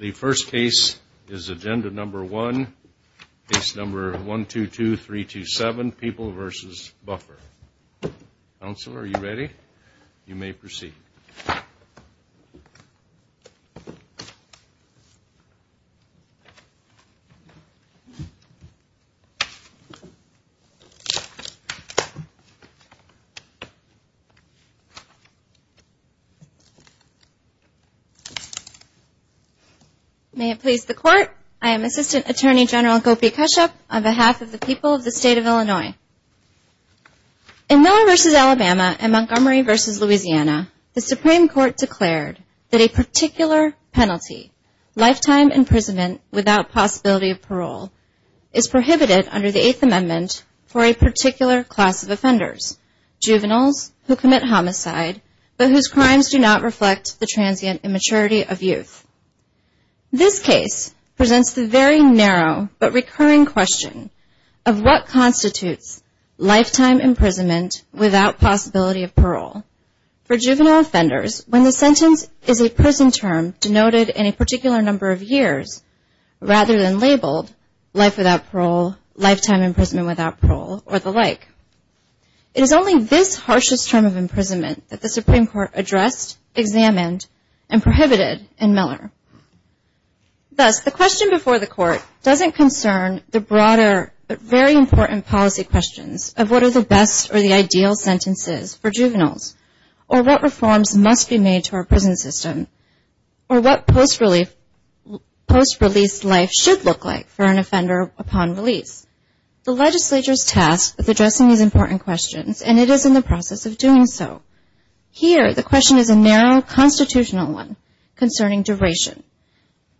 The first case is agenda number one, case number 122327, People v. Buffer. Counsel, are you ready? You may proceed. May it please the Court, I am Assistant Attorney General Gopi Kashyap on behalf of the people of the State of Illinois. In Miller v. Alabama and Montgomery v. Louisiana, the Supreme Court declared that a particular penalty, lifetime imprisonment without possibility of parole, is prohibited under the Eighth Amendment for a particular class of offenders, juveniles who commit homicide but whose crimes do not reflect the transient immaturity of youth. This case presents the very narrow but recurring question of what constitutes lifetime imprisonment without possibility of parole for juvenile offenders when the sentence is a prison term denoted in a particular number of years rather than labeled life without parole, lifetime imprisonment without parole, or the like. It is only this harshest term of imprisonment that the Supreme Court addressed, examined, and prohibited in Miller. Thus, the question before the Court doesn't concern the broader but very important policy questions of what are the best or the ideal sentences for juveniles, or what reforms must be made to our prison system, or what post-release life should look like for an offender upon release. The legislature is tasked with addressing these important questions, and it is in the process of doing so. Here, the question is a narrow constitutional one concerning duration.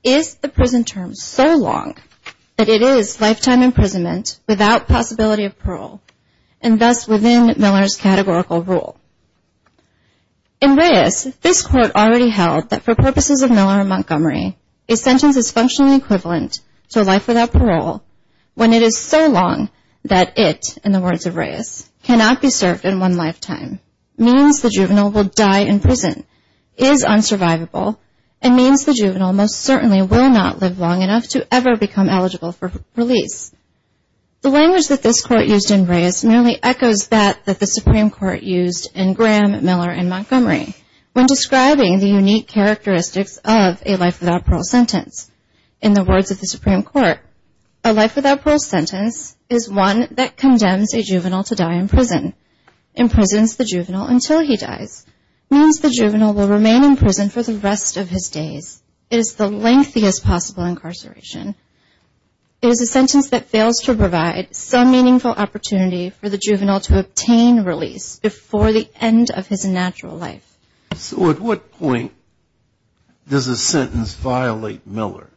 Is the prison term so long that it is lifetime imprisonment without possibility of parole, and thus within Miller's categorical rule? In Reyes, this Court already held that for purposes of Miller v. Montgomery, a sentence is functionally equivalent to a life without parole when it is so long that it, in the words of Reyes, cannot be served in one lifetime, means the juvenile will die in prison, is unsurvivable, and means the juvenile most certainly will not live long enough to ever become eligible for release. The language that this Court used in Reyes merely echoes that that the Supreme Court used in Graham, Miller, and Montgomery when describing the unique characteristics of a life without parole sentence. In the words of the Supreme Court, a life without parole sentence is one that condemns a juvenile to die in prison, imprisons the juvenile until he dies, means the juvenile will remain in prison for the rest of his days, is the lengthiest possible incarceration, is a sentence that fails to provide some meaningful opportunity for the juvenile to obtain release before the end of his natural life. So at what point does a sentence violate Miller?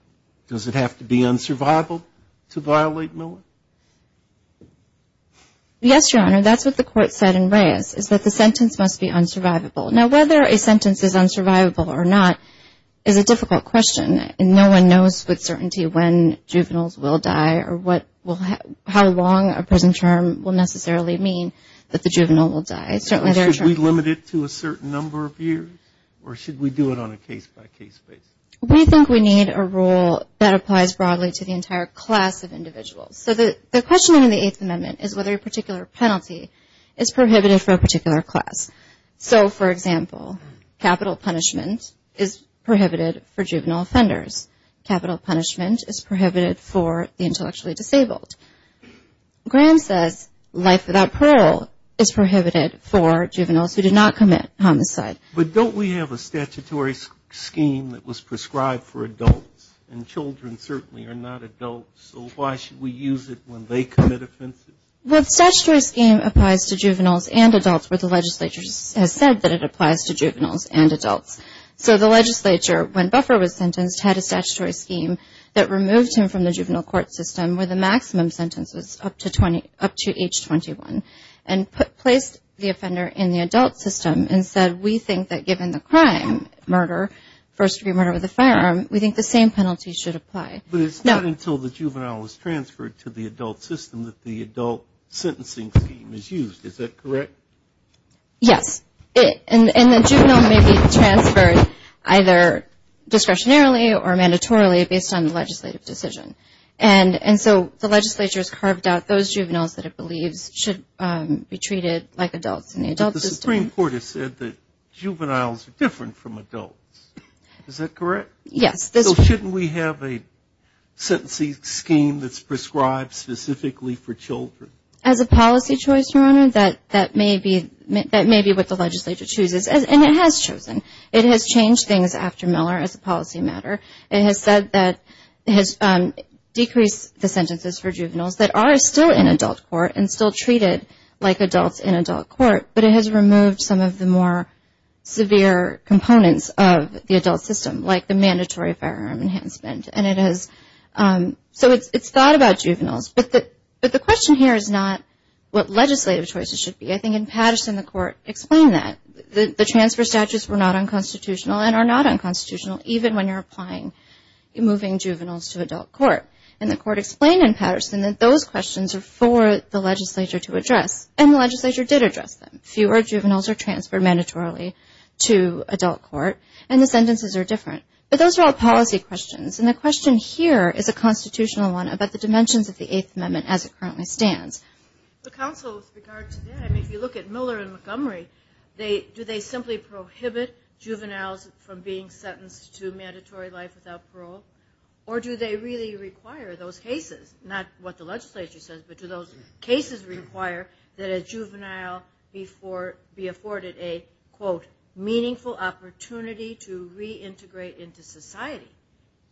Does it have to be unsurvivable to violate Miller? Yes, Your Honor. That's what the Court said in Reyes, is that the sentence must be unsurvivable. Now, whether a sentence is unsurvivable or not is a difficult question, and no one knows with certainty when juveniles will die or how long a prison term will necessarily mean that the juvenile will die. Should we limit it to a certain number of years, or should we do it on a case-by-case basis? We think we need a rule that applies broadly to the entire class of individuals. So the question in the Eighth Amendment is whether a particular penalty is prohibited for a particular class. So, for example, capital punishment is prohibited for juvenile offenders. Capital punishment is prohibited for the intellectually disabled. Grant says life without parole is prohibited for juveniles who did not commit homicide. But don't we have a statutory scheme that was prescribed for adults? And children certainly are not adults, so why should we use it when they commit offenses? Well, the statutory scheme applies to juveniles and adults, where the legislature has said that it applies to juveniles and adults. So the legislature, when Buffer was sentenced, had a statutory scheme that removed him from the juvenile court system where the maximum sentence was up to age 21, and placed the offender in the adult system and said we think that given the crime, murder, first-degree murder with a firearm, we think the same penalty should apply. So the juvenile sentencing scheme is used, is that correct? Yes. And the juvenile may be transferred either discretionarily or mandatorily based on the legislative decision. And so the legislature has carved out those juveniles that it believes should be treated like adults in the adult system. But the Supreme Court has said that juveniles are different from adults, is that correct? Yes. So shouldn't we have a sentencing scheme that's prescribed specifically for children? As a policy choice, Your Honor, that may be what the legislature chooses, and it has chosen. It has changed things after Miller as a policy matter. It has said that it has decreased the sentences for juveniles that are still in adult court and still treated like adults in adult court, but it has removed some of the more severe components of the adult system, like the mandatory firearm enhancement. So it's thought about juveniles, but the question here is not what legislative choices should be. I think in Patterson, the Court explained that. The transfer statutes were not unconstitutional and are not unconstitutional, even when you're moving juveniles to adult court. And the Court explained in Patterson that those questions are for the legislature to address, and the legislature did address them. Fewer juveniles are transferred mandatorily to adult court, and the sentences are different. But those are all policy questions, and the question here is a constitutional one about the dimensions of the Eighth Amendment as it currently stands. The counsel's regard to that, I mean, if you look at Miller and Montgomery, do they simply prohibit juveniles from being sentenced to mandatory life without parole, or do they really require those cases, not what the legislature says, but do those cases require that a juvenile be afforded a, quote, meaningful opportunity to reintegrate into society?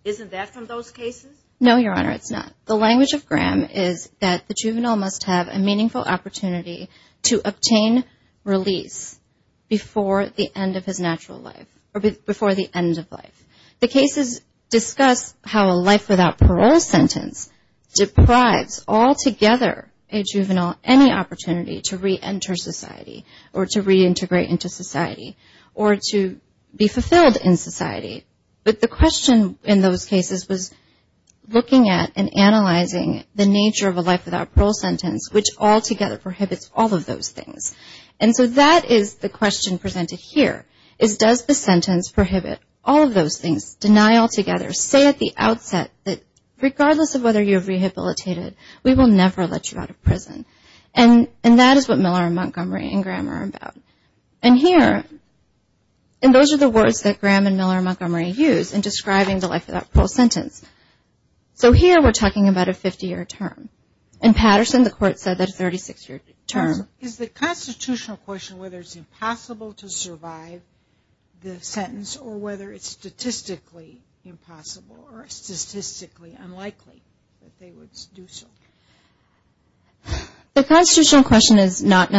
Isn't that from those cases? No, Your Honor, it's not. The language of Graham is that the juvenile must have a meaningful opportunity to obtain release before the end of his natural life, or before the end of life. The cases discuss how a life without parole sentence deprives altogether a juvenile any opportunity to reenter society or to reintegrate into society or to be fulfilled in society. But the question in those cases was looking at and analyzing the nature of a life without parole sentence, which altogether prohibits all of those things. And so that is the question presented here, is does the sentence prohibit all of those things, deny altogether, say at the outset that regardless of whether you're rehabilitated, we will never let you out of prison. And that is what Miller and Montgomery and Graham are about. And here, and those are the words that Graham and Miller and Montgomery use in describing the life without parole sentence. So here we're talking about a 50-year term. In Patterson, the court said that a 36-year term. Is the constitutional question whether it's impossible to survive the sentence or whether it's statistically impossible or statistically unlikely that they would do so? The constitutional question is not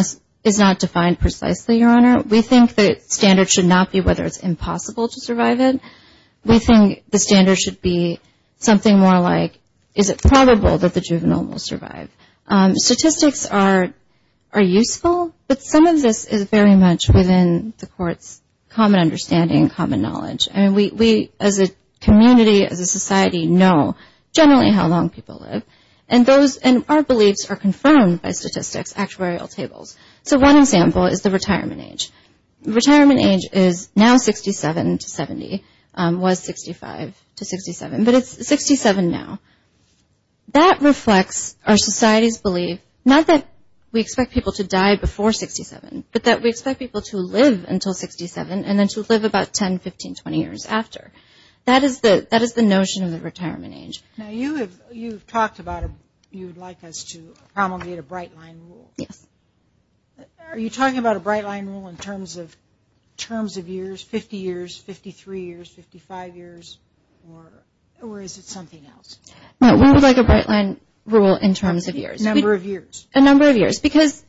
defined precisely, Your Honor. We think the standard should not be whether it's impossible to survive it. We think the standard should be something more like is it probable that the juvenile will survive. Statistics are useful, but some of this is very much within the court's common understanding, common knowledge. And we as a community, as a society, know generally how long people live. And our beliefs are confirmed by statistics, actuarial tables. So one example is the retirement age. Retirement age is now 67 to 70, was 65 to 67, but it's 67 now. That reflects our society's belief, not that we expect people to die before 67, but that we expect people to live until 67 and then to live about 10, 15, 20 years after. That is the notion of the retirement age. Now, you have talked about you would like us to promulgate a bright line rule. Yes. Are you talking about a bright line rule in terms of years, 50 years, 53 years, 55 years, or is it something else? No, we would like a bright line rule in terms of years. A number of years. A number of years, because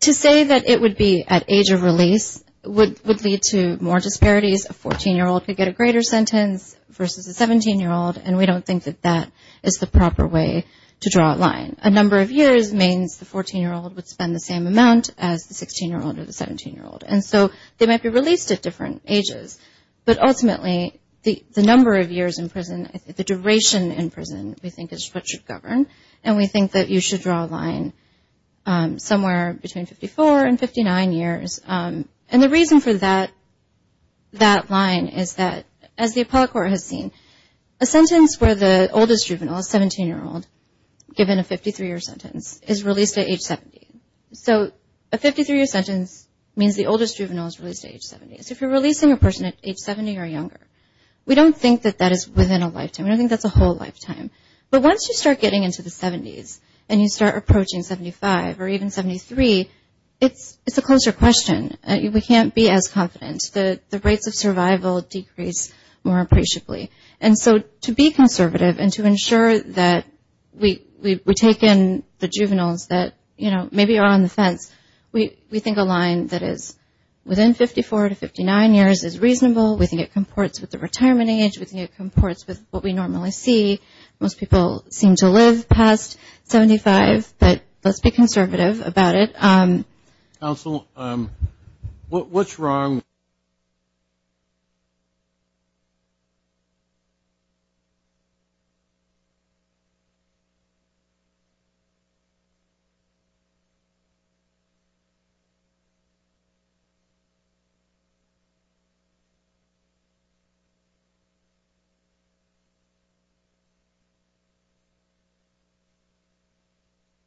to say that it would be at age of release would lead to more disparities. A 14-year-old could get a greater sentence versus a 17-year-old, and we don't think that that is the proper way to draw a line. A number of years means the 14-year-old would spend the same amount as the 16-year-old or the 17-year-old, and so they might be released at different ages. But ultimately, the number of years in prison, the duration in prison, we think is what should govern, and we think that you should draw a line somewhere between 54 and 59 years. And the reason for that line is that, as the appellate court has seen, a sentence where the oldest juvenile is 17-year-old, given a 53-year sentence, is released at age 70. So a 53-year sentence means the oldest juvenile is released at age 70. So if you're releasing a person at age 70 or younger, we don't think that that is within a lifetime. We don't think that's a whole lifetime. But once you start getting into the 70s and you start approaching 75 or even 73, it's a closer question. We can't be as confident. The rates of survival decrease more appreciably. And so to be conservative and to ensure that we take in the juveniles that maybe are on the fence, we think a line that is within 54 to 59 years is reasonable. We think it comports with the retirement age. We think it comports with what we normally see. Most people seem to live past 75, but let's be conservative about it. Counsel, what's wrong?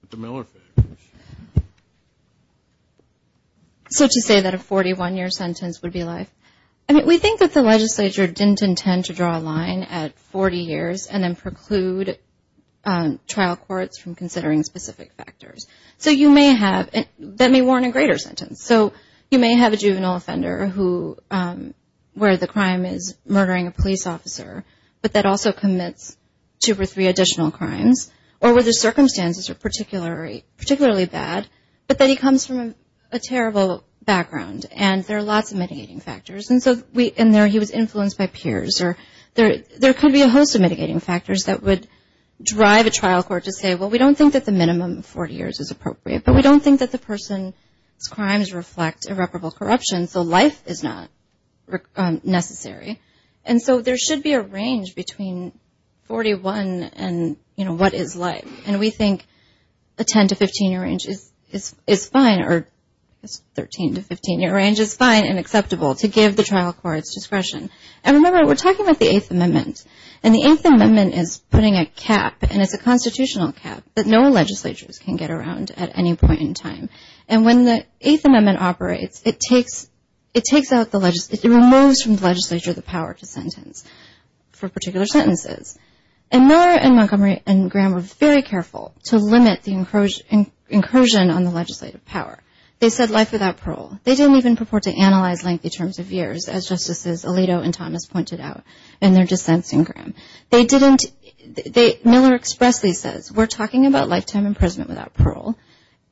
Mr. Miller, please. So to say that a 41-year sentence would be life, I mean we think that the legislature didn't intend to draw a line at 40 years and then preclude trial courts from considering specific factors. So you may have, that may warrant a greater sentence. So you may have a juvenile offender who, where the crime is murdering a police officer, but that also commits two or three additional crimes, or where the circumstances are particularly bad, but then he comes from a terrible background and there are lots of mitigating factors. And so in there he was influenced by peers. There could be a host of mitigating factors that would drive a trial court to say, well, we don't think that the minimum of 40 years is appropriate, but we don't think that the person's crimes reflect irreparable corruption, so life is not necessary. And so there should be a range between 41 and, you know, what is life. And we think a 10- to 15-year range is fine, or a 13- to 15-year range is fine and acceptable to give the trial courts discretion. And remember, we're talking about the Eighth Amendment. And the Eighth Amendment is putting a cap, and it's a constitutional cap, that no legislatures can get around at any point in time. And when the Eighth Amendment operates, it removes from the legislature the power to sentence for particular sentences. And Miller and Montgomery and Graham were very careful to limit the incursion on the legislative power. They said life without parole. They didn't even purport to analyze lengthy terms of years, as Justices Alito and Thomas pointed out in their dissents in Graham. Miller expressly says, we're talking about lifetime imprisonment without parole,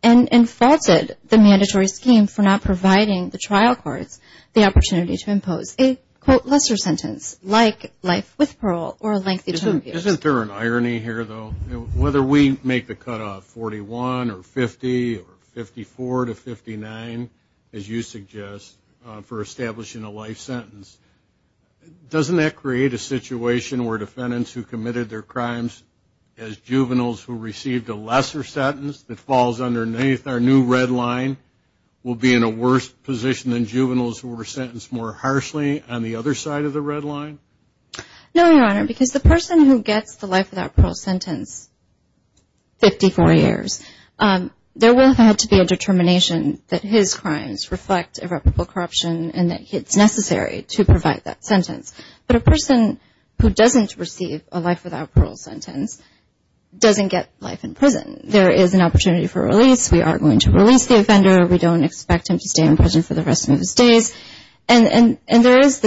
and faulted the mandatory scheme for not providing the trial courts the opportunity to impose a, quote, lesser sentence, like life with parole or a lengthy term of years. Isn't there an irony here, though? Whether we make the cutoff 41 or 50 or 54 to 59, as you suggest, for establishing a life sentence, doesn't that create a situation where defendants who committed their crimes as juveniles who received a lesser sentence that falls underneath our new red line will be in a worse position than juveniles who were sentenced more harshly on the other side of the red line? No, Your Honor, because the person who gets the life without parole sentence, 54 years, there will have had to be a determination that his crimes reflect irreparable corruption and that it's necessary to provide that sentence. But a person who doesn't receive a life without parole sentence doesn't get life in prison. There is an opportunity for release. We are going to release the offender. We don't expect him to stay in prison for the rest of his days. And there is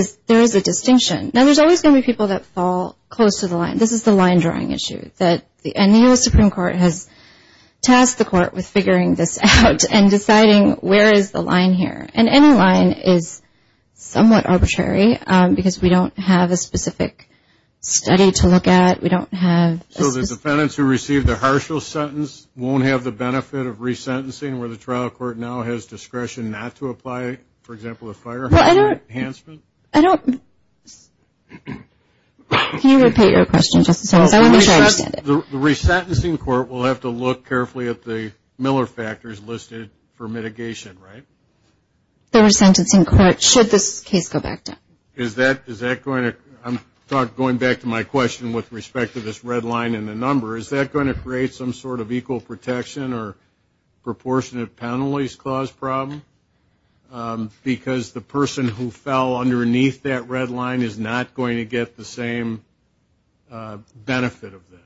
a distinction. Now, there's always going to be people that fall close to the line. This is the line-drawing issue. And the U.S. Supreme Court has tasked the court with figuring this out and deciding where is the line here. And any line is somewhat arbitrary because we don't have a specific study to look at. We don't have a specific – So the defendants who received the harsher sentence won't have the benefit of resentencing where the trial court now has discretion not to apply, for example, a firearm enhancement? Well, I don't – I don't – can you repeat your question just in case? I want to be sure I understand it. The resentencing court will have to look carefully at the Miller factors listed for mitigation, right? The resentencing court, should this case go back down? Is that going to – I'm going back to my question with respect to this red line and the number. Is that going to create some sort of equal protection or proportionate penalties clause problem? Because the person who fell underneath that red line is not going to get the same benefit of that.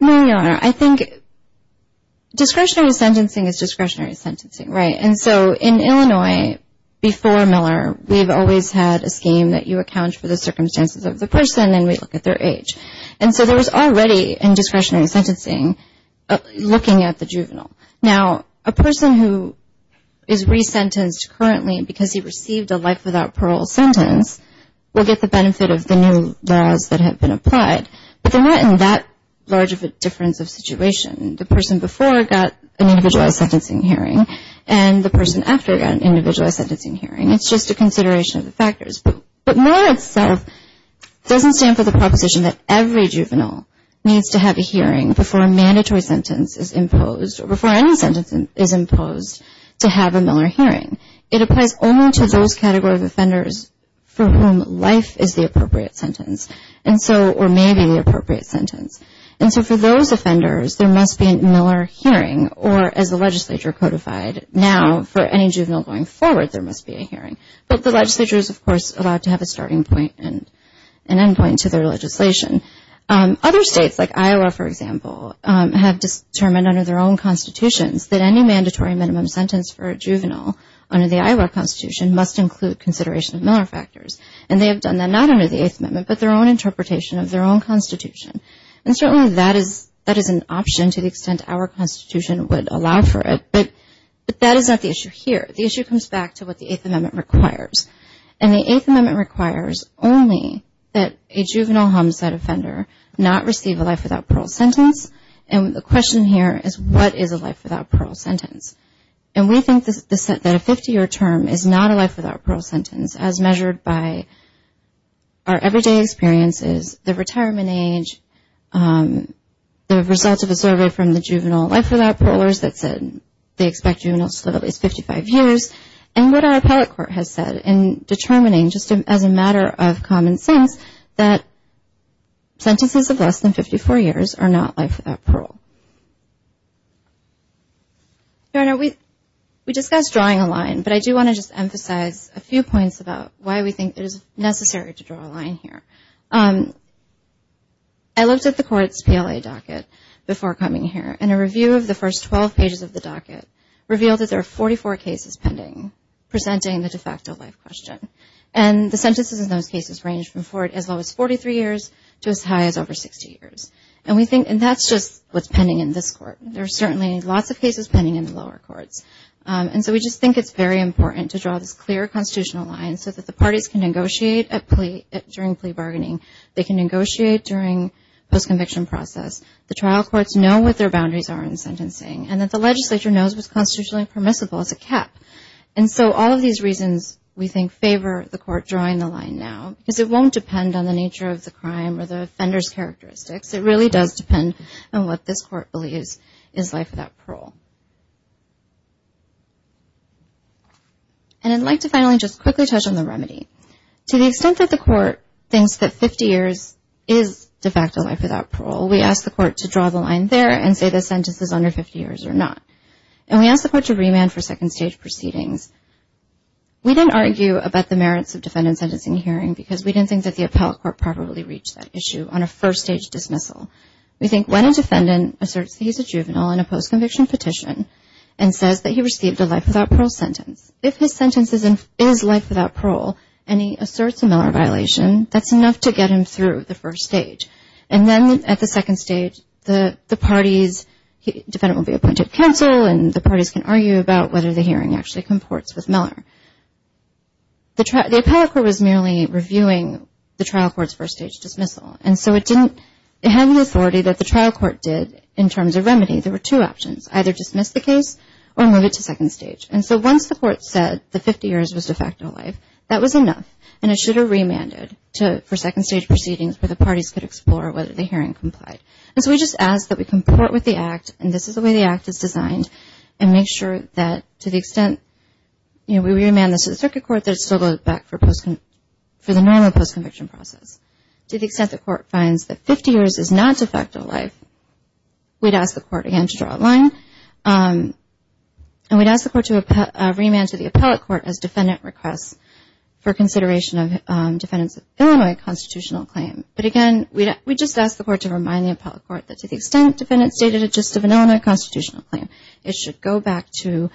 No, Your Honor. I think discretionary sentencing is discretionary sentencing, right? And so in Illinois, before Miller, we've always had a scheme that you account for the circumstances of the person and we look at their age. And so there was already in discretionary sentencing looking at the juvenile. Now, a person who is resentenced currently because he received a life without parole sentence will get the benefit of the new laws that have been applied. But they're not in that large of a difference of situation. The person before got an individualized sentencing hearing and the person after got an individualized sentencing hearing. It's just a consideration of the factors. But Miller itself doesn't stand for the proposition that every juvenile needs to have a hearing before a mandatory sentence is imposed or before any sentence is imposed to have a Miller hearing. It applies only to those category of offenders for whom life is the appropriate sentence or may be the appropriate sentence. And so for those offenders, there must be a Miller hearing or, as the legislature codified, now for any juvenile going forward, there must be a hearing. But the legislature is, of course, allowed to have a starting point and end point to their legislation. Other states like Iowa, for example, have determined under their own constitutions that any mandatory minimum sentence for a juvenile under the Iowa Constitution must include consideration of Miller factors. And they have done that not under the Eighth Amendment but their own interpretation of their own Constitution. And certainly that is an option to the extent our Constitution would allow for it. But that is not the issue here. The issue comes back to what the Eighth Amendment requires. And the Eighth Amendment requires only that a juvenile homicide offender not receive a life without parole sentence. And the question here is, what is a life without parole sentence? And we think that a 50-year term is not a life without parole sentence as measured by our everyday experiences, the retirement age, the results of a survey from the juvenile life without parolers that said they expect juveniles to live at least 55 years, and what our appellate court has said. And determining just as a matter of common sense that sentences of less than 54 years are not life without parole. We discussed drawing a line, but I do want to just emphasize a few points about why we think it is necessary to draw a line here. I looked at the court's PLA docket before coming here, and a review of the first 12 pages of the docket revealed that there are 44 cases pending presenting the de facto life question. And the sentences in those cases range from as low as 43 years to as high as over 60 years. And that's just what's pending in this court. There are certainly lots of cases pending in the lower courts. And so we just think it's very important to draw this clear constitutional line so that the parties can negotiate during plea bargaining. They can negotiate during postconviction process. The trial courts know what their boundaries are in sentencing and that the legislature knows what's constitutionally permissible as a cap. And so all of these reasons, we think, favor the court drawing the line now because it won't depend on the nature of the crime or the offender's characteristics. It really does depend on what this court believes is life without parole. And I'd like to finally just quickly touch on the remedy. To the extent that the court thinks that 50 years is de facto life without parole, we ask the court to draw the line there and say the sentence is under 50 years or not. And we ask the court to remand for second stage proceedings. We didn't argue about the merits of defendant sentencing hearing because we didn't think that the appellate court properly reached that issue on a first stage dismissal. We think when a defendant asserts that he's a juvenile in a postconviction petition and says that he received a life without parole sentence, if his sentence is life without parole and he asserts a Miller violation, that's enough to get him through the first stage. And then at the second stage, the parties, the defendant will be appointed counsel and the parties can argue about whether the hearing actually comports with Miller. The appellate court was merely reviewing the trial court's first stage dismissal. And so it didn't have the authority that the trial court did in terms of remedy. There were two options, either dismiss the case or move it to second stage. And so once the court said the 50 years was de facto life, that was enough and it should have remanded for second stage proceedings where the parties could explore whether the hearing complied. And so we just asked that we comport with the act, and this is the way the act is designed, and make sure that to the extent we remand this to the circuit court, that it still goes back for the normal postconviction process. To the extent the court finds that 50 years is not de facto life, we'd ask the court again to draw a line and we'd ask the court to remand to the appellate court as defendant requests for consideration of defendants' Illinois constitutional claim. But again, we just ask the court to remind the appellate court that to the extent defendants stated a gist of an Illinois constitutional claim, it should go back to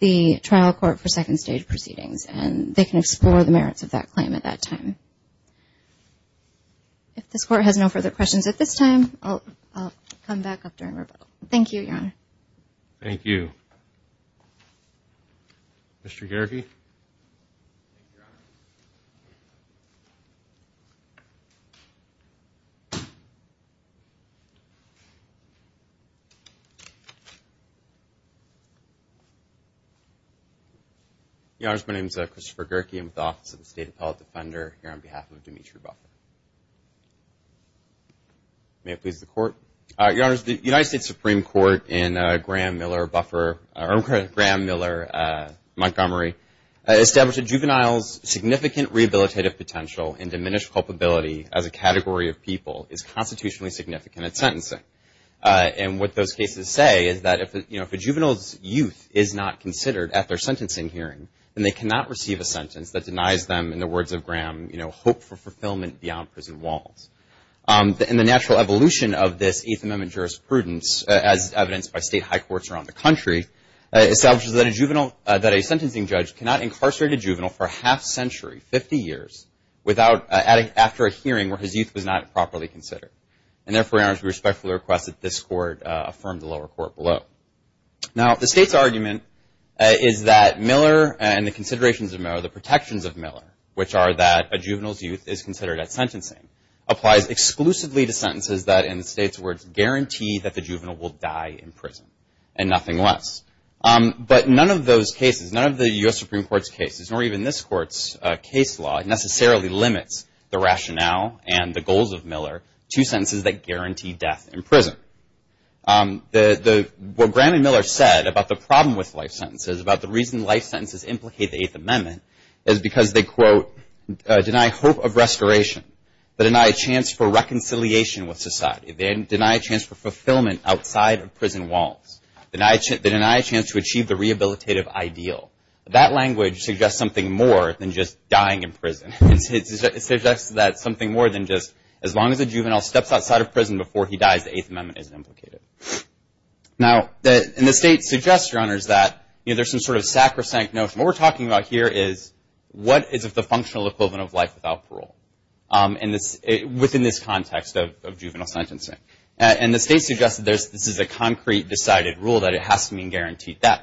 the trial court for second stage proceedings and they can explore the merits of that claim at that time. If this court has no further questions at this time, I'll come back up during revote. Thank you, Your Honor. Thank you. Mr. Gehrke. Thank you, Your Honor. Your Honor, my name is Christopher Gehrke. I'm with the Office of the State Appellate Defender here on behalf of Demetri Buffer. May it please the Court. Your Honor, the United States Supreme Court in Graham-Miller Montgomery established a juvenile's significant rehabilitative potential and diminished culpability as a category of people is constitutionally significant at sentencing. And what those cases say is that if a juvenile's youth is not considered at their sentencing hearing, then they cannot receive a sentence that denies them, in the words of Graham, hope for fulfillment beyond prison walls. And the natural evolution of this Eighth Amendment jurisprudence, as evidenced by state high courts around the country, establishes that a sentencing judge cannot incarcerate a juvenile for a half century, 50 years, after a hearing where his youth was not properly considered. And therefore, Your Honor, we respectfully request that this Court affirm the lower court below. Now, the State's argument is that Miller and the considerations of Miller, the protections of Miller, which are that a juvenile's youth is considered at sentencing, applies exclusively to sentences that, in the State's words, guarantee that the juvenile will die in prison and nothing less. But none of those cases, none of the U.S. Supreme Court's cases, nor even this Court's case law necessarily limits the rationale and the goals of Miller to sentences that guarantee death in prison. What Graham and Miller said about the problem with life sentences, about the reason life sentences implicate the Eighth Amendment, is because they, quote, deny hope of restoration. They deny a chance for reconciliation with society. They deny a chance for fulfillment outside of prison walls. They deny a chance to achieve the rehabilitative ideal. That language suggests something more than just dying in prison. It suggests that something more than just as long as a juvenile steps outside of prison before he dies, the Eighth Amendment isn't implicated. Now, the State suggests, Your Honors, that there's some sort of sacrosanct notion. What we're talking about here is what is the functional equivalent of life without parole within this context of juvenile sentencing. And the State suggests that this is a concrete, decided rule, that it has to mean guaranteed death.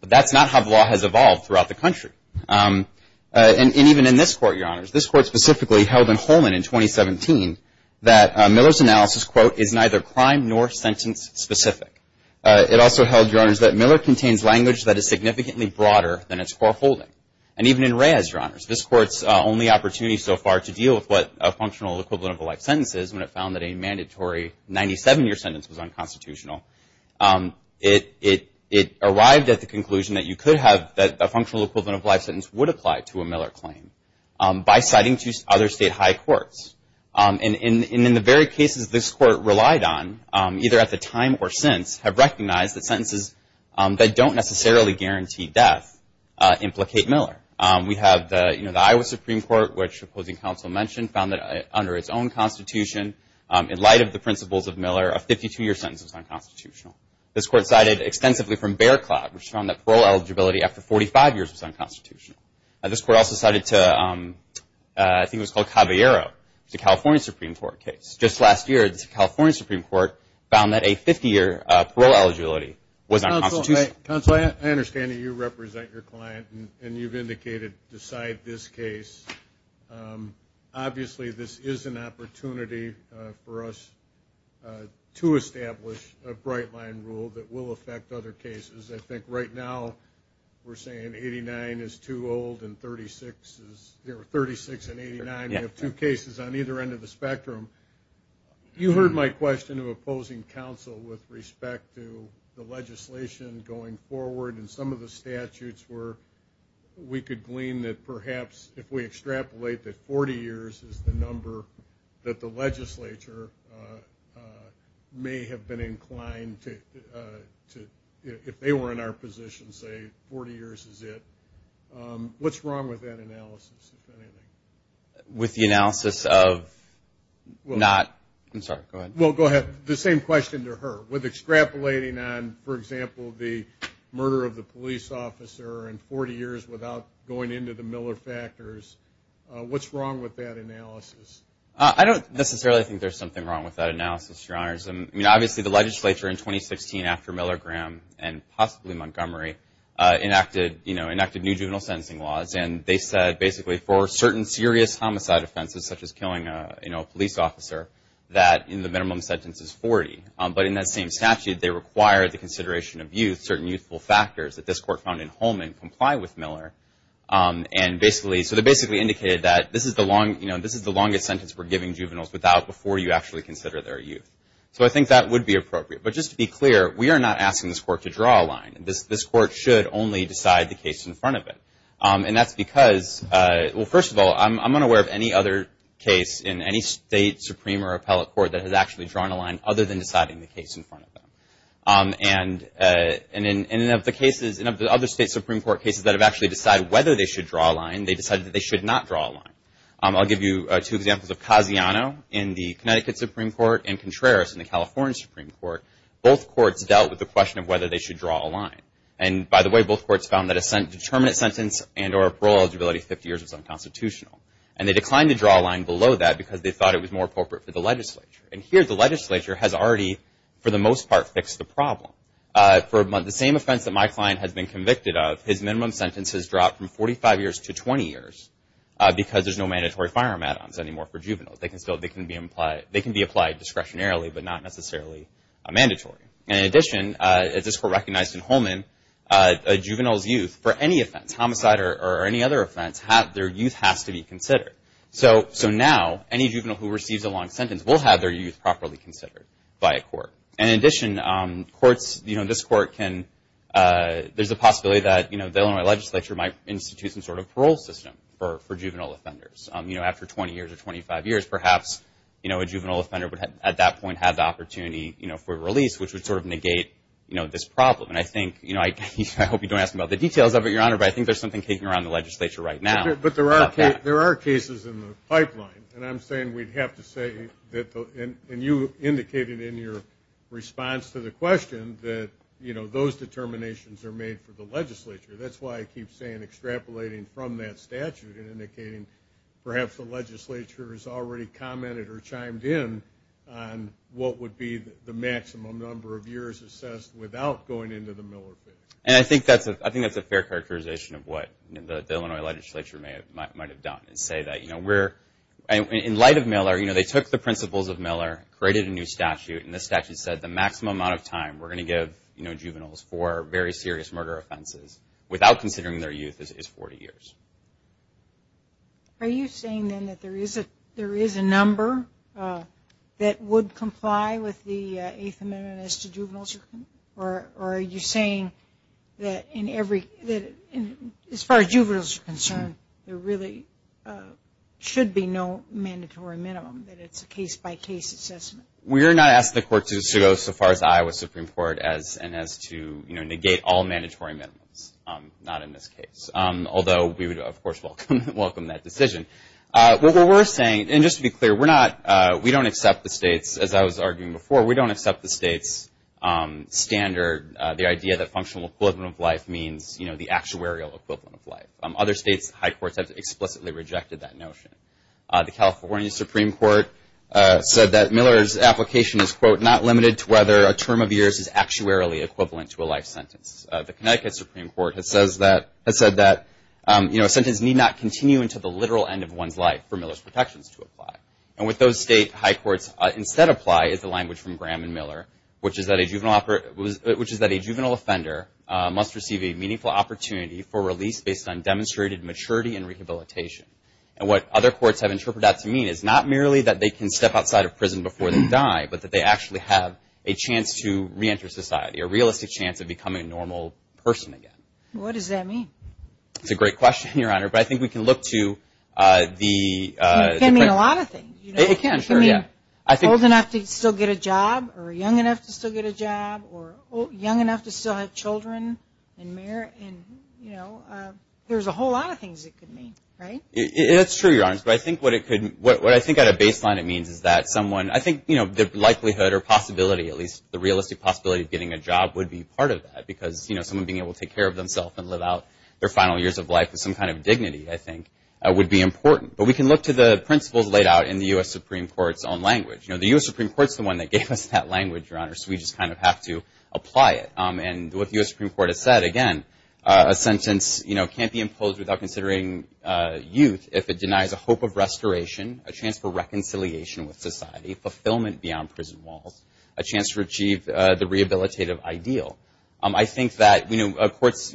But that's not how the law has evolved throughout the country. And even in this Court, Your Honors, this Court specifically held in Holman in 2017 that Miller's analysis, quote, is neither crime nor sentence specific. It also held, Your Honors, that Miller contains language that is significantly broader than its foreholding. And even in Reyes, Your Honors, this Court's only opportunity so far to deal with what a functional equivalent of a life sentence is when it found that a mandatory 97-year sentence was unconstitutional, it arrived at the conclusion that you could have, that a functional equivalent of life sentence would apply to a Miller claim by citing two other State high courts. And in the very cases this Court relied on, either at the time or since, have recognized that sentences that don't necessarily guarantee death implicate Miller. We have the Iowa Supreme Court, which opposing counsel mentioned, found that under its own Constitution, in light of the principles of Miller, a 52-year sentence was unconstitutional. This Court cited extensively from Bear Claw, which found that parole eligibility after 45 years was unconstitutional. This Court also cited to, I think it was called Caballero, the California Supreme Court case. Just last year, the California Supreme Court found that a 50-year parole eligibility was unconstitutional. Counsel, I understand that you represent your client and you've indicated decide this case. Obviously, this is an opportunity for us to establish a bright line rule that will affect other cases. I think right now we're saying 89 is too old and 36 is, there were 36 and 89, we have two cases on either end of the spectrum. You heard my question of opposing counsel with respect to the legislation going forward and some of the statutes were, we could glean that perhaps if we extrapolate that 40 years is the number that the legislature may have been inclined to, if they were in our position, say 40 years is it, what's wrong with that analysis, if anything? With the analysis of not, I'm sorry, go ahead. Well, go ahead. The same question to her. With extrapolating on, for example, the murder of the police officer and 40 years without going into the Miller factors, what's wrong with that analysis? I don't necessarily think there's something wrong with that analysis, your honors. I mean, obviously the legislature in 2016, after Miller Graham and possibly Montgomery, enacted new juvenile sentencing laws and they said basically for certain serious homicide offenses, such as killing a police officer, that in the minimum sentence is 40. But in that same statute, they require the consideration of youth, certain youthful factors that this court found in Holman comply with Miller. So they basically indicated that this is the longest sentence we're giving juveniles without before you actually consider their youth. So I think that would be appropriate. But just to be clear, we are not asking this court to draw a line. This court should only decide the case in front of it. And that's because, well, first of all, I'm unaware of any other case in any state, supreme or appellate court that has actually drawn a line other than deciding the case in front of them. And in of the cases, in of the other state supreme court cases that have actually decided whether they should draw a line, they decided that they should not draw a line. I'll give you two examples of Casiano in the Connecticut Supreme Court and Contreras in the California Supreme Court. Both courts dealt with the question of whether they should draw a line. And by the way, both courts found that a determinate sentence and or parole eligibility 50 years was unconstitutional. And they declined to draw a line below that because they thought it was more appropriate for the legislature. And here the legislature has already, for the most part, fixed the problem. For the same offense that my client has been convicted of, his minimum sentence has dropped from 45 years to 20 years because there's no mandatory firearm add-ons anymore for juveniles. They can be applied discretionarily but not necessarily mandatory. And in addition, as this court recognized in Holman, a juvenile's youth, for any offense, homicide or any other offense, their youth has to be considered. So now any juvenile who receives a long sentence will have their youth properly considered by a court. And in addition, courts, you know, this court can, there's a possibility that, you know, the Illinois legislature might institute some sort of parole system for juvenile offenders. You know, after 20 years or 25 years, perhaps, you know, a juvenile offender would at that point have the opportunity, you know, for release, which would sort of negate, you know, this problem. And I think, you know, I hope you don't ask about the details of it, Your Honor, but I think there's something kicking around in the legislature right now about that. But there are cases in the pipeline, and I'm saying we'd have to say, and you indicated in your response to the question, that, you know, those determinations are made for the legislature. That's why I keep saying extrapolating from that statute and indicating perhaps the legislature has already commented or chimed in on what would be the maximum number of years assessed without going into the Miller bill. And I think that's a fair characterization of what the Illinois legislature might have done and say that, you know, we're, in light of Miller, you know, they took the principles of Miller, created a new statute, and this statute said the maximum amount of time we're going to give, you know, juveniles for very serious murder offenses without considering their youth is 40 years. Are you saying, then, that there is a number that would comply with the Eighth Amendment as to juveniles? Or are you saying that in every, as far as juveniles are concerned, there really should be no mandatory minimum, that it's a case-by-case assessment? We are not asking the courts to go so far as Iowa Supreme Court as to, you know, negate all mandatory minimums, not in this case, although we would, of course, welcome that decision. What we're saying, and just to be clear, we're not, we don't accept the states, as I was arguing before, we don't accept the states' standard, the idea that functional equivalent of life means, you know, the actuarial equivalent of life. Other states' high courts have explicitly rejected that notion. The California Supreme Court said that Miller's application is, quote, not limited to whether a term of years is actuarially equivalent to a life sentence. The Connecticut Supreme Court has said that, you know, a sentence need not continue until the literal end of one's life for Miller's protections to apply. And what those state high courts instead apply is the language from Graham and Miller, which is that a juvenile, which is that a juvenile offender must receive a meaningful opportunity for release based on demonstrated maturity and rehabilitation. And what other courts have interpreted that to mean is not merely that they can step outside of prison before they die, but that they actually have a chance to reenter society, a realistic chance of becoming a normal person again. What does that mean? It's a great question, Your Honor, but I think we can look to the... It can mean a lot of things. It can, sure, yeah. It can mean old enough to still get a job or young enough to still get a job or young enough to still have children and, you know, there's a whole lot of things it could mean, right? It's true, Your Honor, but I think what it could... What I think at a baseline it means is that someone, I think, you know, the likelihood or possibility, at least, the realistic possibility of getting a job would be part of that because, you know, someone being able to take care of themselves and live out their final years of life with some kind of dignity, I think, would be important. But we can look to the principles laid out in the U.S. Supreme Court's own language. You know, the U.S. Supreme Court's the one that gave us that language, Your Honor, so we just kind of have to apply it. And what the U.S. Supreme Court has said, again, a sentence, you know, can't be imposed without considering youth if it denies a hope of restoration, a chance for reconciliation with society, fulfillment beyond prison walls, a chance to achieve the rehabilitative ideal. I think that, you know, courts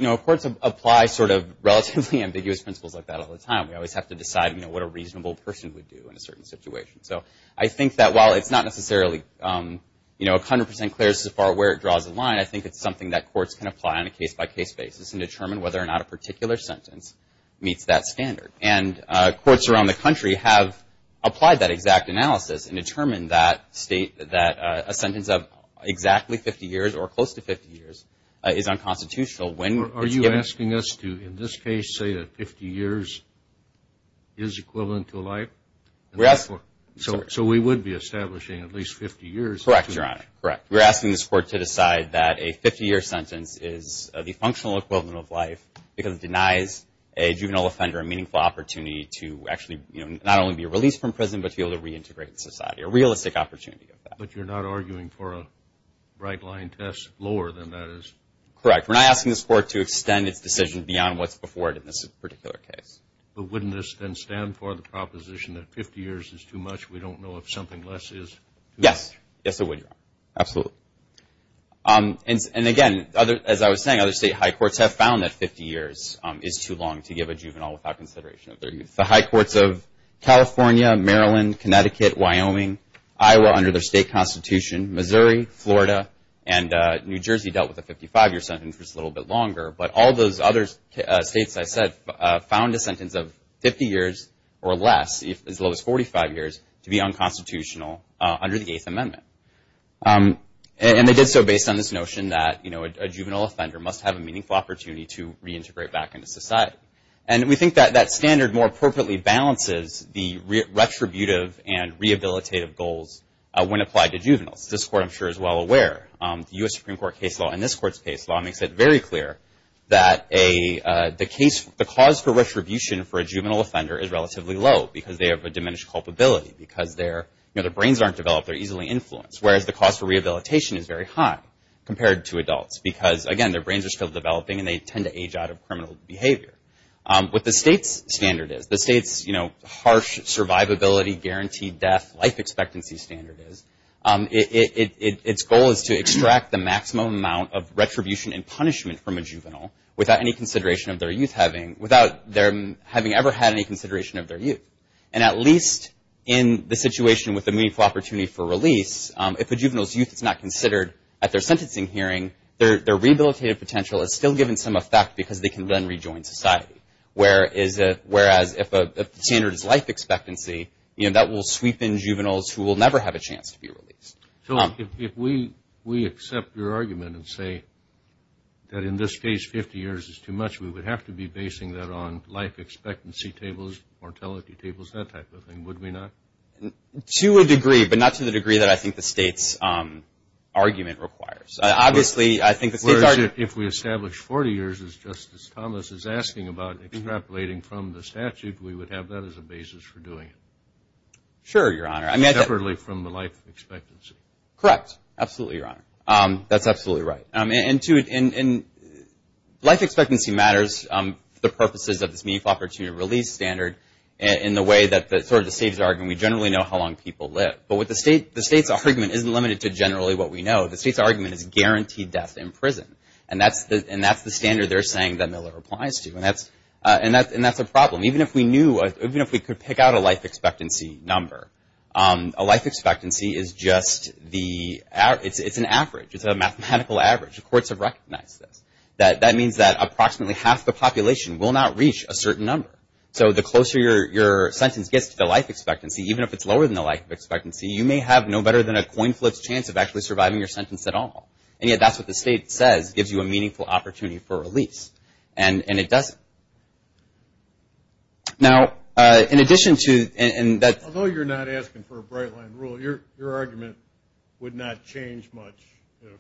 apply sort of relatively ambiguous principles like that all the time. We always have to decide, you know, what a reasonable person would do in a certain situation. So I think that while it's not necessarily, you know, 100 percent clear so far where it draws the line, I think it's something that courts can apply on a case-by-case basis and determine whether or not a particular sentence meets that standard. And courts around the country have applied that exact analysis and determined that a sentence of exactly 50 years or close to 50 years is unconstitutional. Are you asking us to, in this case, say that 50 years is equivalent to life? So we would be establishing at least 50 years. Correct, Your Honor. Correct. We're asking this court to decide that a 50-year sentence is the functional equivalent of life because it denies a juvenile offender a meaningful opportunity to actually, you know, not only be released from prison but to be able to reintegrate in society, a realistic opportunity of that. But you're not arguing for a right-line test lower than that is? Correct. We're not asking this court to extend its decision beyond what's before it in this particular case. But wouldn't this then stand for the proposition that 50 years is too much? We don't know if something less is? Yes. Yes, I would, Your Honor. Absolutely. And again, as I was saying, other state high courts have found that 50 years is too long to give a juvenile without consideration of their youth. The high courts of California, Maryland, Connecticut, Wyoming, Iowa under their state constitution, Missouri, Florida, and New Jersey dealt with a 55-year sentence which is a little bit longer. But all those other states I said found a sentence of 50 years or less, as low as 45 years, to be unconstitutional under the Eighth Amendment. And they did so based on this notion that, you know, a juvenile offender must have a meaningful opportunity to reintegrate back into society. And we think that that standard more appropriately balances the retributive and rehabilitative goals when applied to juveniles. This court I'm sure is well aware, the U.S. Supreme Court case law and this court's case law makes it very clear that the cause for retribution for a juvenile offender is relatively low because they have a diminished culpability. Because their brains aren't developed, they're easily influenced. Whereas the cause for rehabilitation is very high compared to adults because, again, their brains are still developing and they tend to age out of criminal behavior. What the state's standard is, the state's, you know, harsh survivability guaranteed death life expectancy standard is, its goal is to extract the maximum amount of retribution and punishment from a juvenile without any consideration of their youth having, without them having ever had any consideration of their youth. And at least in the situation with the meaningful opportunity for release, if a juvenile's youth is not considered at their sentencing hearing, their rehabilitative potential is still given some effect because they can then rejoin society. Whereas if the standard is life expectancy, you know, that will sweep in juveniles who will never have a chance to be released. So if we accept your argument and say that in this case 50 years is too much, we would have to be basing that on life expectancy tables, mortality tables, that type of thing, would we not? To a degree, but not to the degree that I think the state's argument requires. Obviously, I think the state's argument. Whereas if we establish 40 years, as Justice Thomas is asking about, extrapolating from the statute, we would have that as a basis for doing it. Sure, Your Honor. Separately from the life expectancy. Correct. Absolutely, Your Honor. That's absolutely right. And, too, life expectancy matters for the purposes of this meaningful opportunity for release standard in the way that sort of the state's argument, we generally know how long people live. But the state's argument isn't limited to generally what we know. The state's argument is guaranteed death in prison. And that's the standard they're saying that Miller applies to. And that's a problem. Even if we knew, even if we could pick out a life expectancy number, a life expectancy is just the, it's an average. It's a mathematical average. The courts have recognized this. That means that approximately half the population will not reach a certain number. So the closer your sentence gets to the life expectancy, even if it's lower than the life expectancy, you may have no better than a coin flip chance of actually surviving your sentence at all. And yet that's what the state says gives you a meaningful opportunity for release. And it doesn't. Now, in addition to, and that's. Although you're not asking for a bright line rule, your argument would not change much if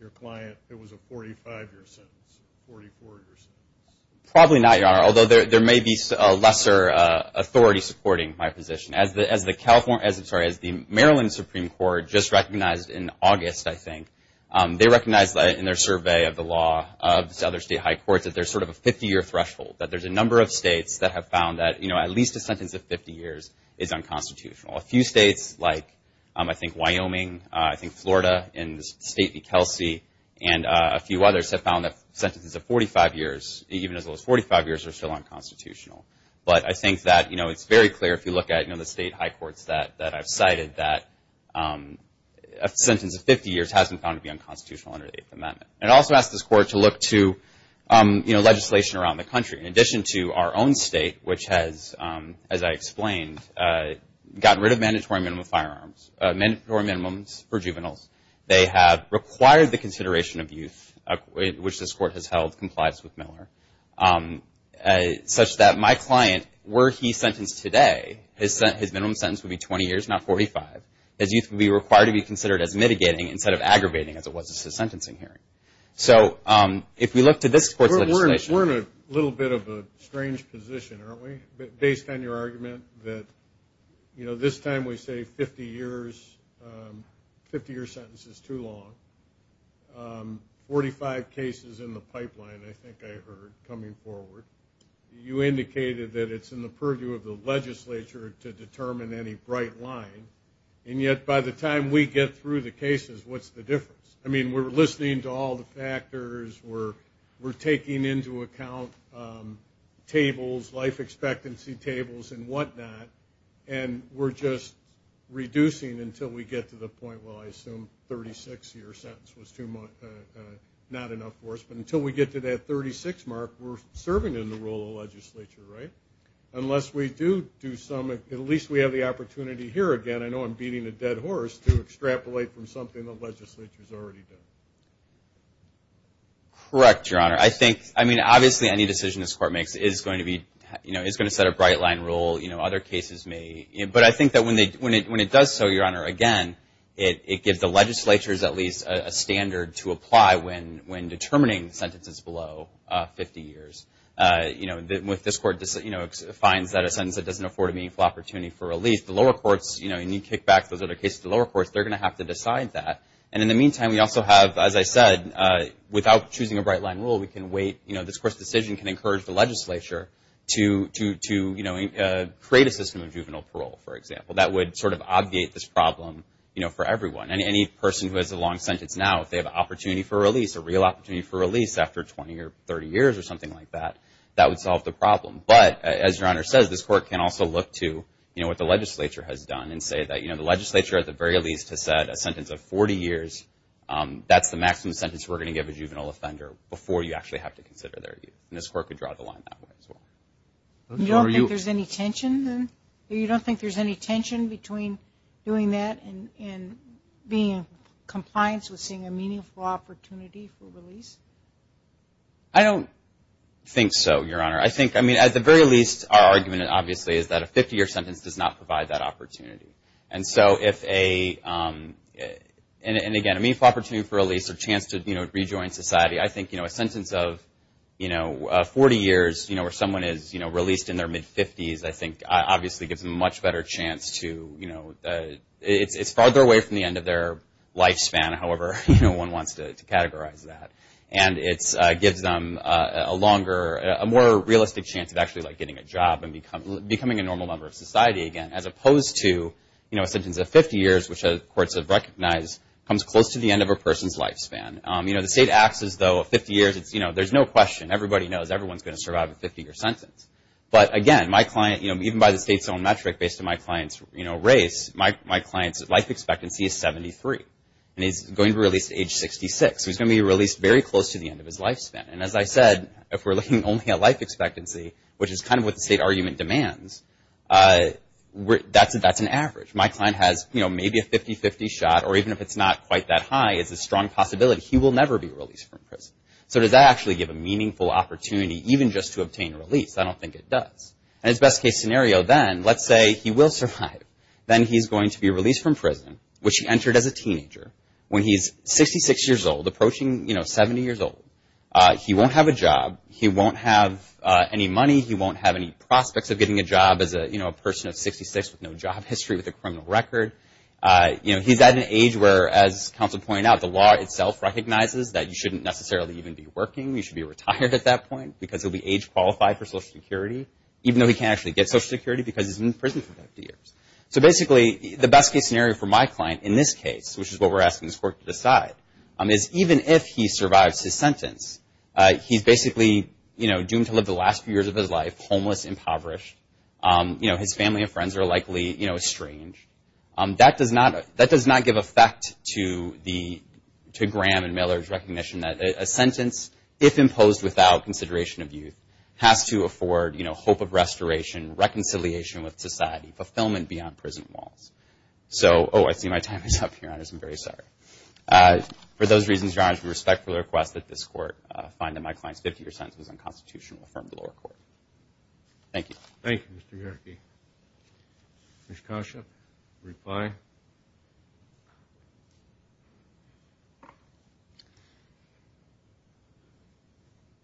your client, it was a 45-year sentence, 44-year sentence. Probably not, Your Honor, although there may be lesser authority supporting my position. As the Maryland Supreme Court just recognized in August, I think, they recognized in their survey of the law of other state high courts that there's sort of a 50-year threshold, that there's a number of states that have found that, you know, at least a sentence of 50 years is unconstitutional. A few states, like I think Wyoming, I think Florida, and State v. Kelsey, and a few others have found that sentences of 45 years, even as low as 45 years, are still unconstitutional. But I think that, you know, it's very clear if you look at, you know, the state high courts that I've cited, that a sentence of 50 years has been found to be unconstitutional under the Eighth Amendment. And I also ask this Court to look to, you know, legislation around the country. In addition to our own state, which has, as I explained, gotten rid of mandatory minimum firearms, mandatory minimums for juveniles, they have required the consideration of youth, which this Court has held complies with Miller, such that my client, were he sentenced today, his minimum sentence would be 20 years, not 45, as youth would be required to be considered as mitigating instead of aggravating, as it was in his sentencing hearing. So if we look to this Court's legislation. We're in a little bit of a strange position, aren't we, based on your argument that, you know, this time we say 50 years, 50 year sentence is too long. Forty-five cases in the pipeline, I think I heard, coming forward. You indicated that it's in the purview of the legislature to determine any bright line. And yet, by the time we get through the cases, what's the difference? I mean, we're listening to all the factors. We're taking into account tables, life expectancy tables and whatnot. And we're just reducing until we get to the point where I assume 36-year sentence was not enough for us. But until we get to that 36 mark, we're serving in the role of legislature, right? Unless we do some, at least we have the opportunity here again, I know I'm beating a dead horse, to extrapolate from something the legislature has already done. Correct, Your Honor. I think, I mean, obviously any decision this Court makes is going to be, you know, is going to set a bright line rule. You know, other cases may. But I think that when it does so, Your Honor, again, it gives the legislatures at least a standard to apply when determining sentences below 50 years. You know, with this Court, you know, finds that a sentence that doesn't afford a meaningful opportunity for release, the lower courts, you know, you need kickbacks. Those are the cases of the lower courts. They're going to have to decide that. And in the meantime, we also have, as I said, without choosing a bright line rule, we can wait. You know, this Court's decision can encourage the legislature to, you know, create a system of juvenile parole, for example. That would sort of obviate this problem, you know, for everyone. Any person who has a long sentence now, if they have an opportunity for release, a real opportunity for release after 20 or 30 years or something like that, that would solve the problem. But, as Your Honor says, this Court can also look to, you know, what the legislature has done and say that, you know, the legislature at the very least has said a sentence of 40 years, that's the maximum sentence we're going to give a juvenile offender before you actually have to consider their youth. And this Court could draw the line that way as well. You don't think there's any tension, then? You don't think there's any tension between doing that and being in compliance with seeing a meaningful opportunity for release? I don't think so, Your Honor. I think, I mean, at the very least, our argument, obviously, is that a 50-year sentence does not provide that opportunity. And so if a, and again, a meaningful opportunity for release or chance to, you know, rejoin society, I think, you know, a sentence of, you know, 40 years, you know, where someone is, you know, released in their mid-50s, I think, obviously gives them a much better chance to, you know, it's farther away from the end of their lifespan, however, you know, one wants to categorize that. And it gives them a longer, a more realistic chance of actually, like, getting a job and becoming a normal member of society again, as opposed to, you know, a sentence of 50 years, which courts have recognized comes close to the end of a person's lifespan. You know, the state acts as though 50 years, it's, you know, there's no question, everybody knows everyone's going to survive a 50-year sentence. But again, my client, you know, even by the state's own metric, based on my client's, you know, race, my client's life expectancy is 73, and he's going to be released at age 66. So he's going to be released very close to the end of his lifespan. And as I said, if we're looking only at life expectancy, which is kind of what the state argument demands, that's an average. My client has, you know, maybe a 50-50 shot, or even if it's not quite that high, it's a strong possibility he will never be released from prison. So does that actually give a meaningful opportunity, even just to obtain release? I don't think it does. And it's best case scenario then, let's say he will survive. Then he's going to be released from prison, which he entered as a teenager, when he's 66 years old, approaching, you know, 70 years old. He won't have a job. He won't have any money. He won't have any prospects of getting a job as a, you know, a person of 66 with no job history, with a criminal record. You know, he's at an age where, as counsel pointed out, the law itself recognizes that you shouldn't necessarily even be working. You should be retired at that point because he'll be age qualified for Social Security, even though he can't actually get Social Security because he's been in prison for 50 years. So basically, the best case scenario for my client in this case, which is what we're asking this court to decide, is even if he survives his sentence, he's basically, you know, doomed to live the last few years of his life homeless, impoverished. You know, his family and friends are likely, you know, estranged. That does not give effect to Graham and Miller's recognition that a sentence, if imposed without consideration of youth, has to afford, you know, hope of restoration, reconciliation with society, fulfillment beyond prison walls. So, oh, I see my time is up, Your Honors. I'm very sorry. For those reasons, Your Honors, we respectfully request that this court find that my client's 50-year sentence was unconstitutional and affirm the lower court. Thank you. Thank you, Mr. Yerke. Ms. Kasha, reply.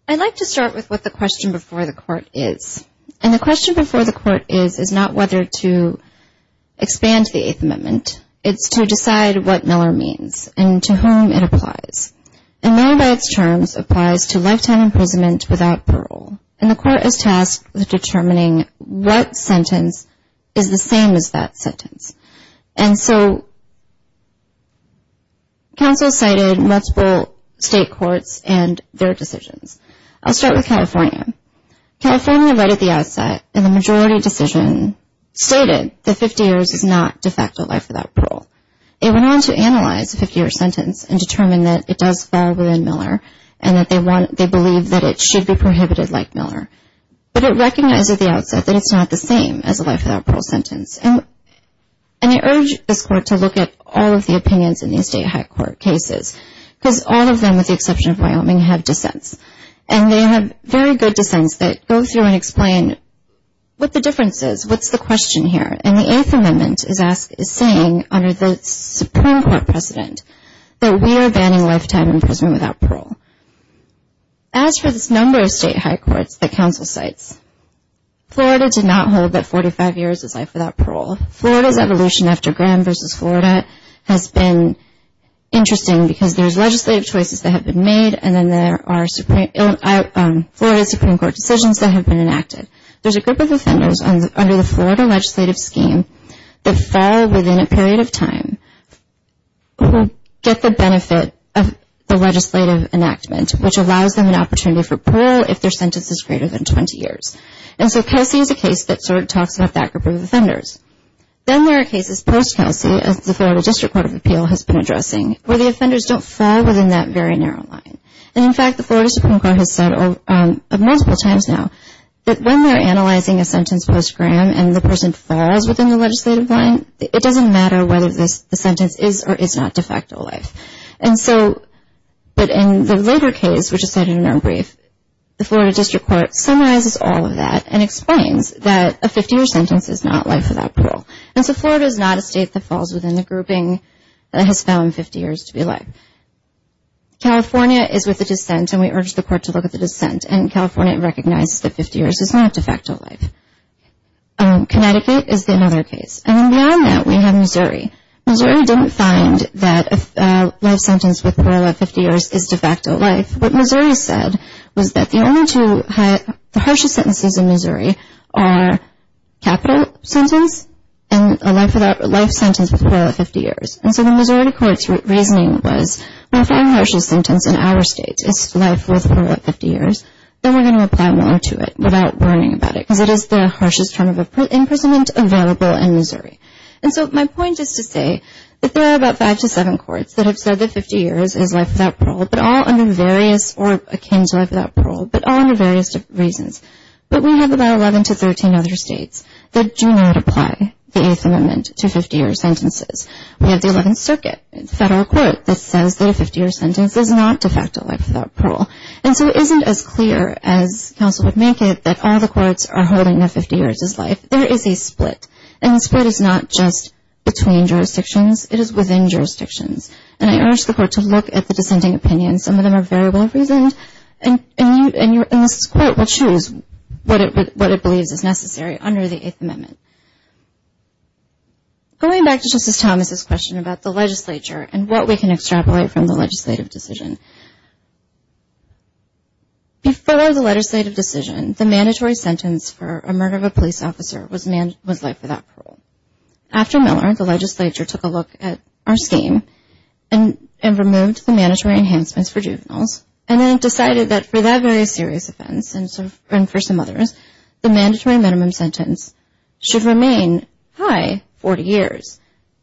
I'd like to start with what the question before the court is. And the question before the court is is not whether to expand the Eighth Amendment. It's to decide what Miller means and to whom it applies. And Miller, by its terms, applies to lifetime imprisonment without parole. And the court is tasked with determining what sentence is the same as that sentence. And so, counsel cited multiple state courts and their decisions. I'll start with California. California, right at the outset, in the majority decision, stated that 50 years is not de facto life without parole. It went on to analyze a 50-year sentence and determine that it does fall within Miller and that they believe that it should be prohibited like Miller. But it recognized at the outset that it's not the same as a life without parole sentence. And I urge this court to look at all of the opinions in these state high court cases because all of them, with the exception of Wyoming, have dissents. And they have very good dissents that go through and explain what the difference is, what's the question here. And the Eighth Amendment is saying, under the Supreme Court precedent, that we are banning lifetime imprisonment without parole. As for this number of state high courts that counsel cites, Florida did not hold that 45 years is life without parole. Florida's evolution after Graham v. Florida has been interesting because there's legislative choices that have been made and then there are Florida Supreme Court decisions that have been enacted. There's a group of offenders under the Florida legislative scheme that fall within a period of time who get the benefit of the legislative enactment, which allows them an opportunity for parole if their sentence is greater than 20 years. And so Kelsey is a case that sort of talks about that group of offenders. Then there are cases post-Kelsey, as the Florida District Court of Appeal has been addressing, where the offenders don't fall within that very narrow line. And, in fact, the Florida Supreme Court has said multiple times now that when they're analyzing a sentence post-Graham and the person falls within the legislative line, it doesn't matter whether the sentence is or is not de facto life. And so, but in the later case, which is cited in our brief, the Florida District Court summarizes all of that and explains that a 50-year sentence is not life without parole. And so Florida is not a state that falls within the grouping that has found 50 years to be life. California is with the dissent, and we urge the court to look at the dissent, and California recognizes that 50 years is not de facto life. Connecticut is another case. And then beyond that, we have Missouri. Missouri didn't find that a life sentence with parole at 50 years is de facto life. What Missouri said was that the only two harshest sentences in Missouri are capital sentence and a life sentence with parole at 50 years. And so the Missouri court's reasoning was, when we find the harshest sentence in our state, it's life with parole at 50 years, then we're going to apply more to it without worrying about it because it is the harshest term of imprisonment available in Missouri. And so my point is to say that there are about five to seven courts that have said that 50 years is life without parole, but all under various or akin to life without parole, but all under various reasons. But we have about 11 to 13 other states that do not apply the Eighth Amendment to 50-year sentences. We have the Eleventh Circuit, a federal court, that says that a 50-year sentence is not de facto life without parole. And so it isn't as clear as counsel would make it that all the courts are holding that 50 years is life. There is a split, and the split is not just between jurisdictions. It is within jurisdictions, and I urge the court to look at the dissenting opinions. Some of them are very well-reasoned, and this court will choose what it believes is necessary under the Eighth Amendment. Going back to Justice Thomas's question about the legislature and what we can extrapolate from the legislative decision, before the legislative decision, the mandatory sentence for a murder of a police officer was life without parole. After Miller, the legislature took a look at our scheme and removed the mandatory enhancements for juveniles and then decided that for that very serious offense and for some others, the mandatory minimum sentence should remain high 40 years.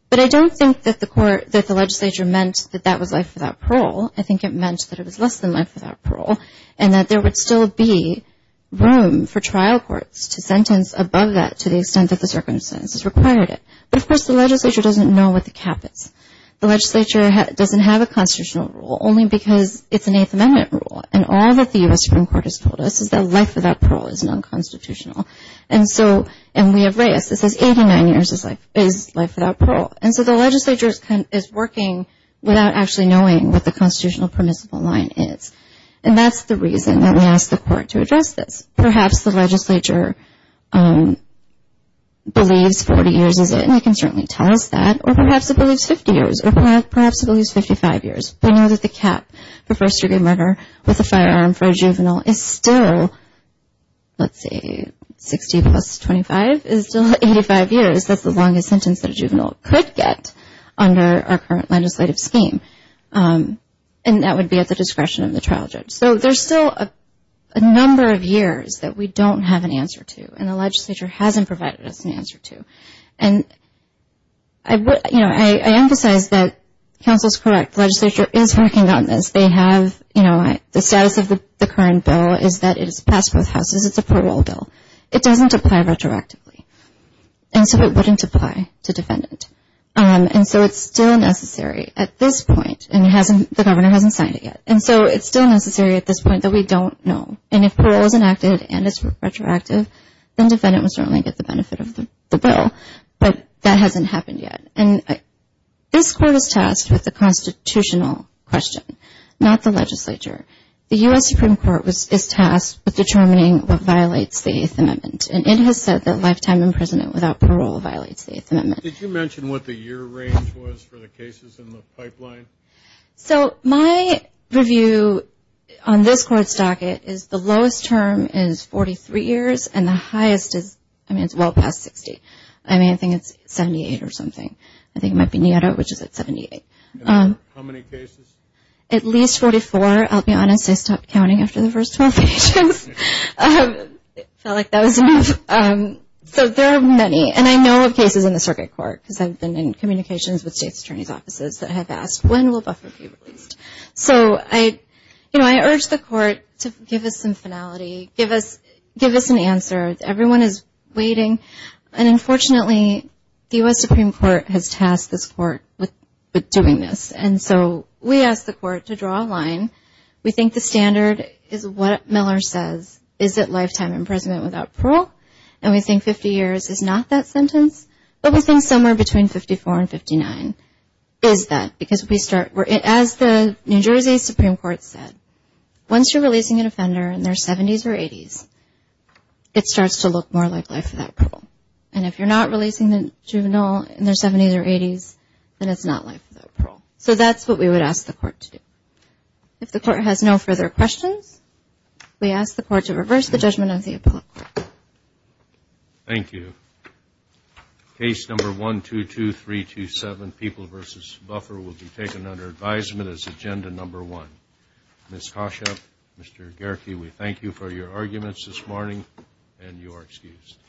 But I don't think that the legislature meant that that was life without parole. I think it meant that it was less than life without parole and that there would still be room for trial courts to sentence above that to the extent that the circumstances required it. But, of course, the legislature doesn't know what the cap is. The legislature doesn't have a constitutional rule only because it's an Eighth Amendment rule, and all that the U.S. Supreme Court has told us is that life without parole is non-constitutional. And we have Reyes that says 89 years is life without parole. And so the legislature is working without actually knowing what the constitutional permissible line is. And that's the reason that we asked the court to address this. Perhaps the legislature believes 40 years is it, and they can certainly tell us that, or perhaps it believes 50 years, or perhaps it believes 55 years. They know that the cap for first-degree murder with a firearm for a juvenile is still, let's see, 60 plus 25 is still 85 years. That's the longest sentence that a juvenile could get under our current legislative scheme. And that would be at the discretion of the trial judge. So there's still a number of years that we don't have an answer to, and the legislature hasn't provided us an answer to. And I emphasize that counsel's correct. The legislature is working on this. The status of the current bill is that it's passed both houses. It's a parole bill. It doesn't apply retroactively, and so it wouldn't apply to defendant. And so it's still necessary at this point, and the governor hasn't signed it yet. And so it's still necessary at this point that we don't know. And if parole is enacted and it's retroactive, then defendant would certainly get the benefit of the bill. But that hasn't happened yet. This court is tasked with the constitutional question, not the legislature. The U.S. Supreme Court is tasked with determining what violates the Eighth Amendment, and it has said that lifetime imprisonment without parole violates the Eighth Amendment. Did you mention what the year range was for the cases in the pipeline? So my review on this court's docket is the lowest term is 43 years, and the highest is well past 60. I mean, I think it's 78 or something. I think it might be NIETA, which is at 78. How many cases? At least 44. I'll be honest, I stopped counting after the first 12 pages. It felt like that was enough. So there are many, and I know of cases in the circuit court, because I've been in communications with state's attorney's offices that have asked, when will buffer be released? So I urge the court to give us some finality. Give us an answer. Everyone is waiting. And, unfortunately, the U.S. Supreme Court has tasked this court with doing this. And so we asked the court to draw a line. We think the standard is what Miller says, is it lifetime imprisonment without parole? And we think 50 years is not that sentence, but we think somewhere between 54 and 59 is that, because as the New Jersey Supreme Court said, once you're releasing an offender in their 70s or 80s, it starts to look more like life without parole. And if you're not releasing the juvenile in their 70s or 80s, then it's not life without parole. So that's what we would ask the court to do. If the court has no further questions, we ask the court to reverse the judgment of the appellate court. Thank you. Case number 122327, People v. Buffer, will be taken under advisement as agenda number one. Ms. Koschek, Mr. Gehrke, we thank you for your arguments this morning, and you are excused.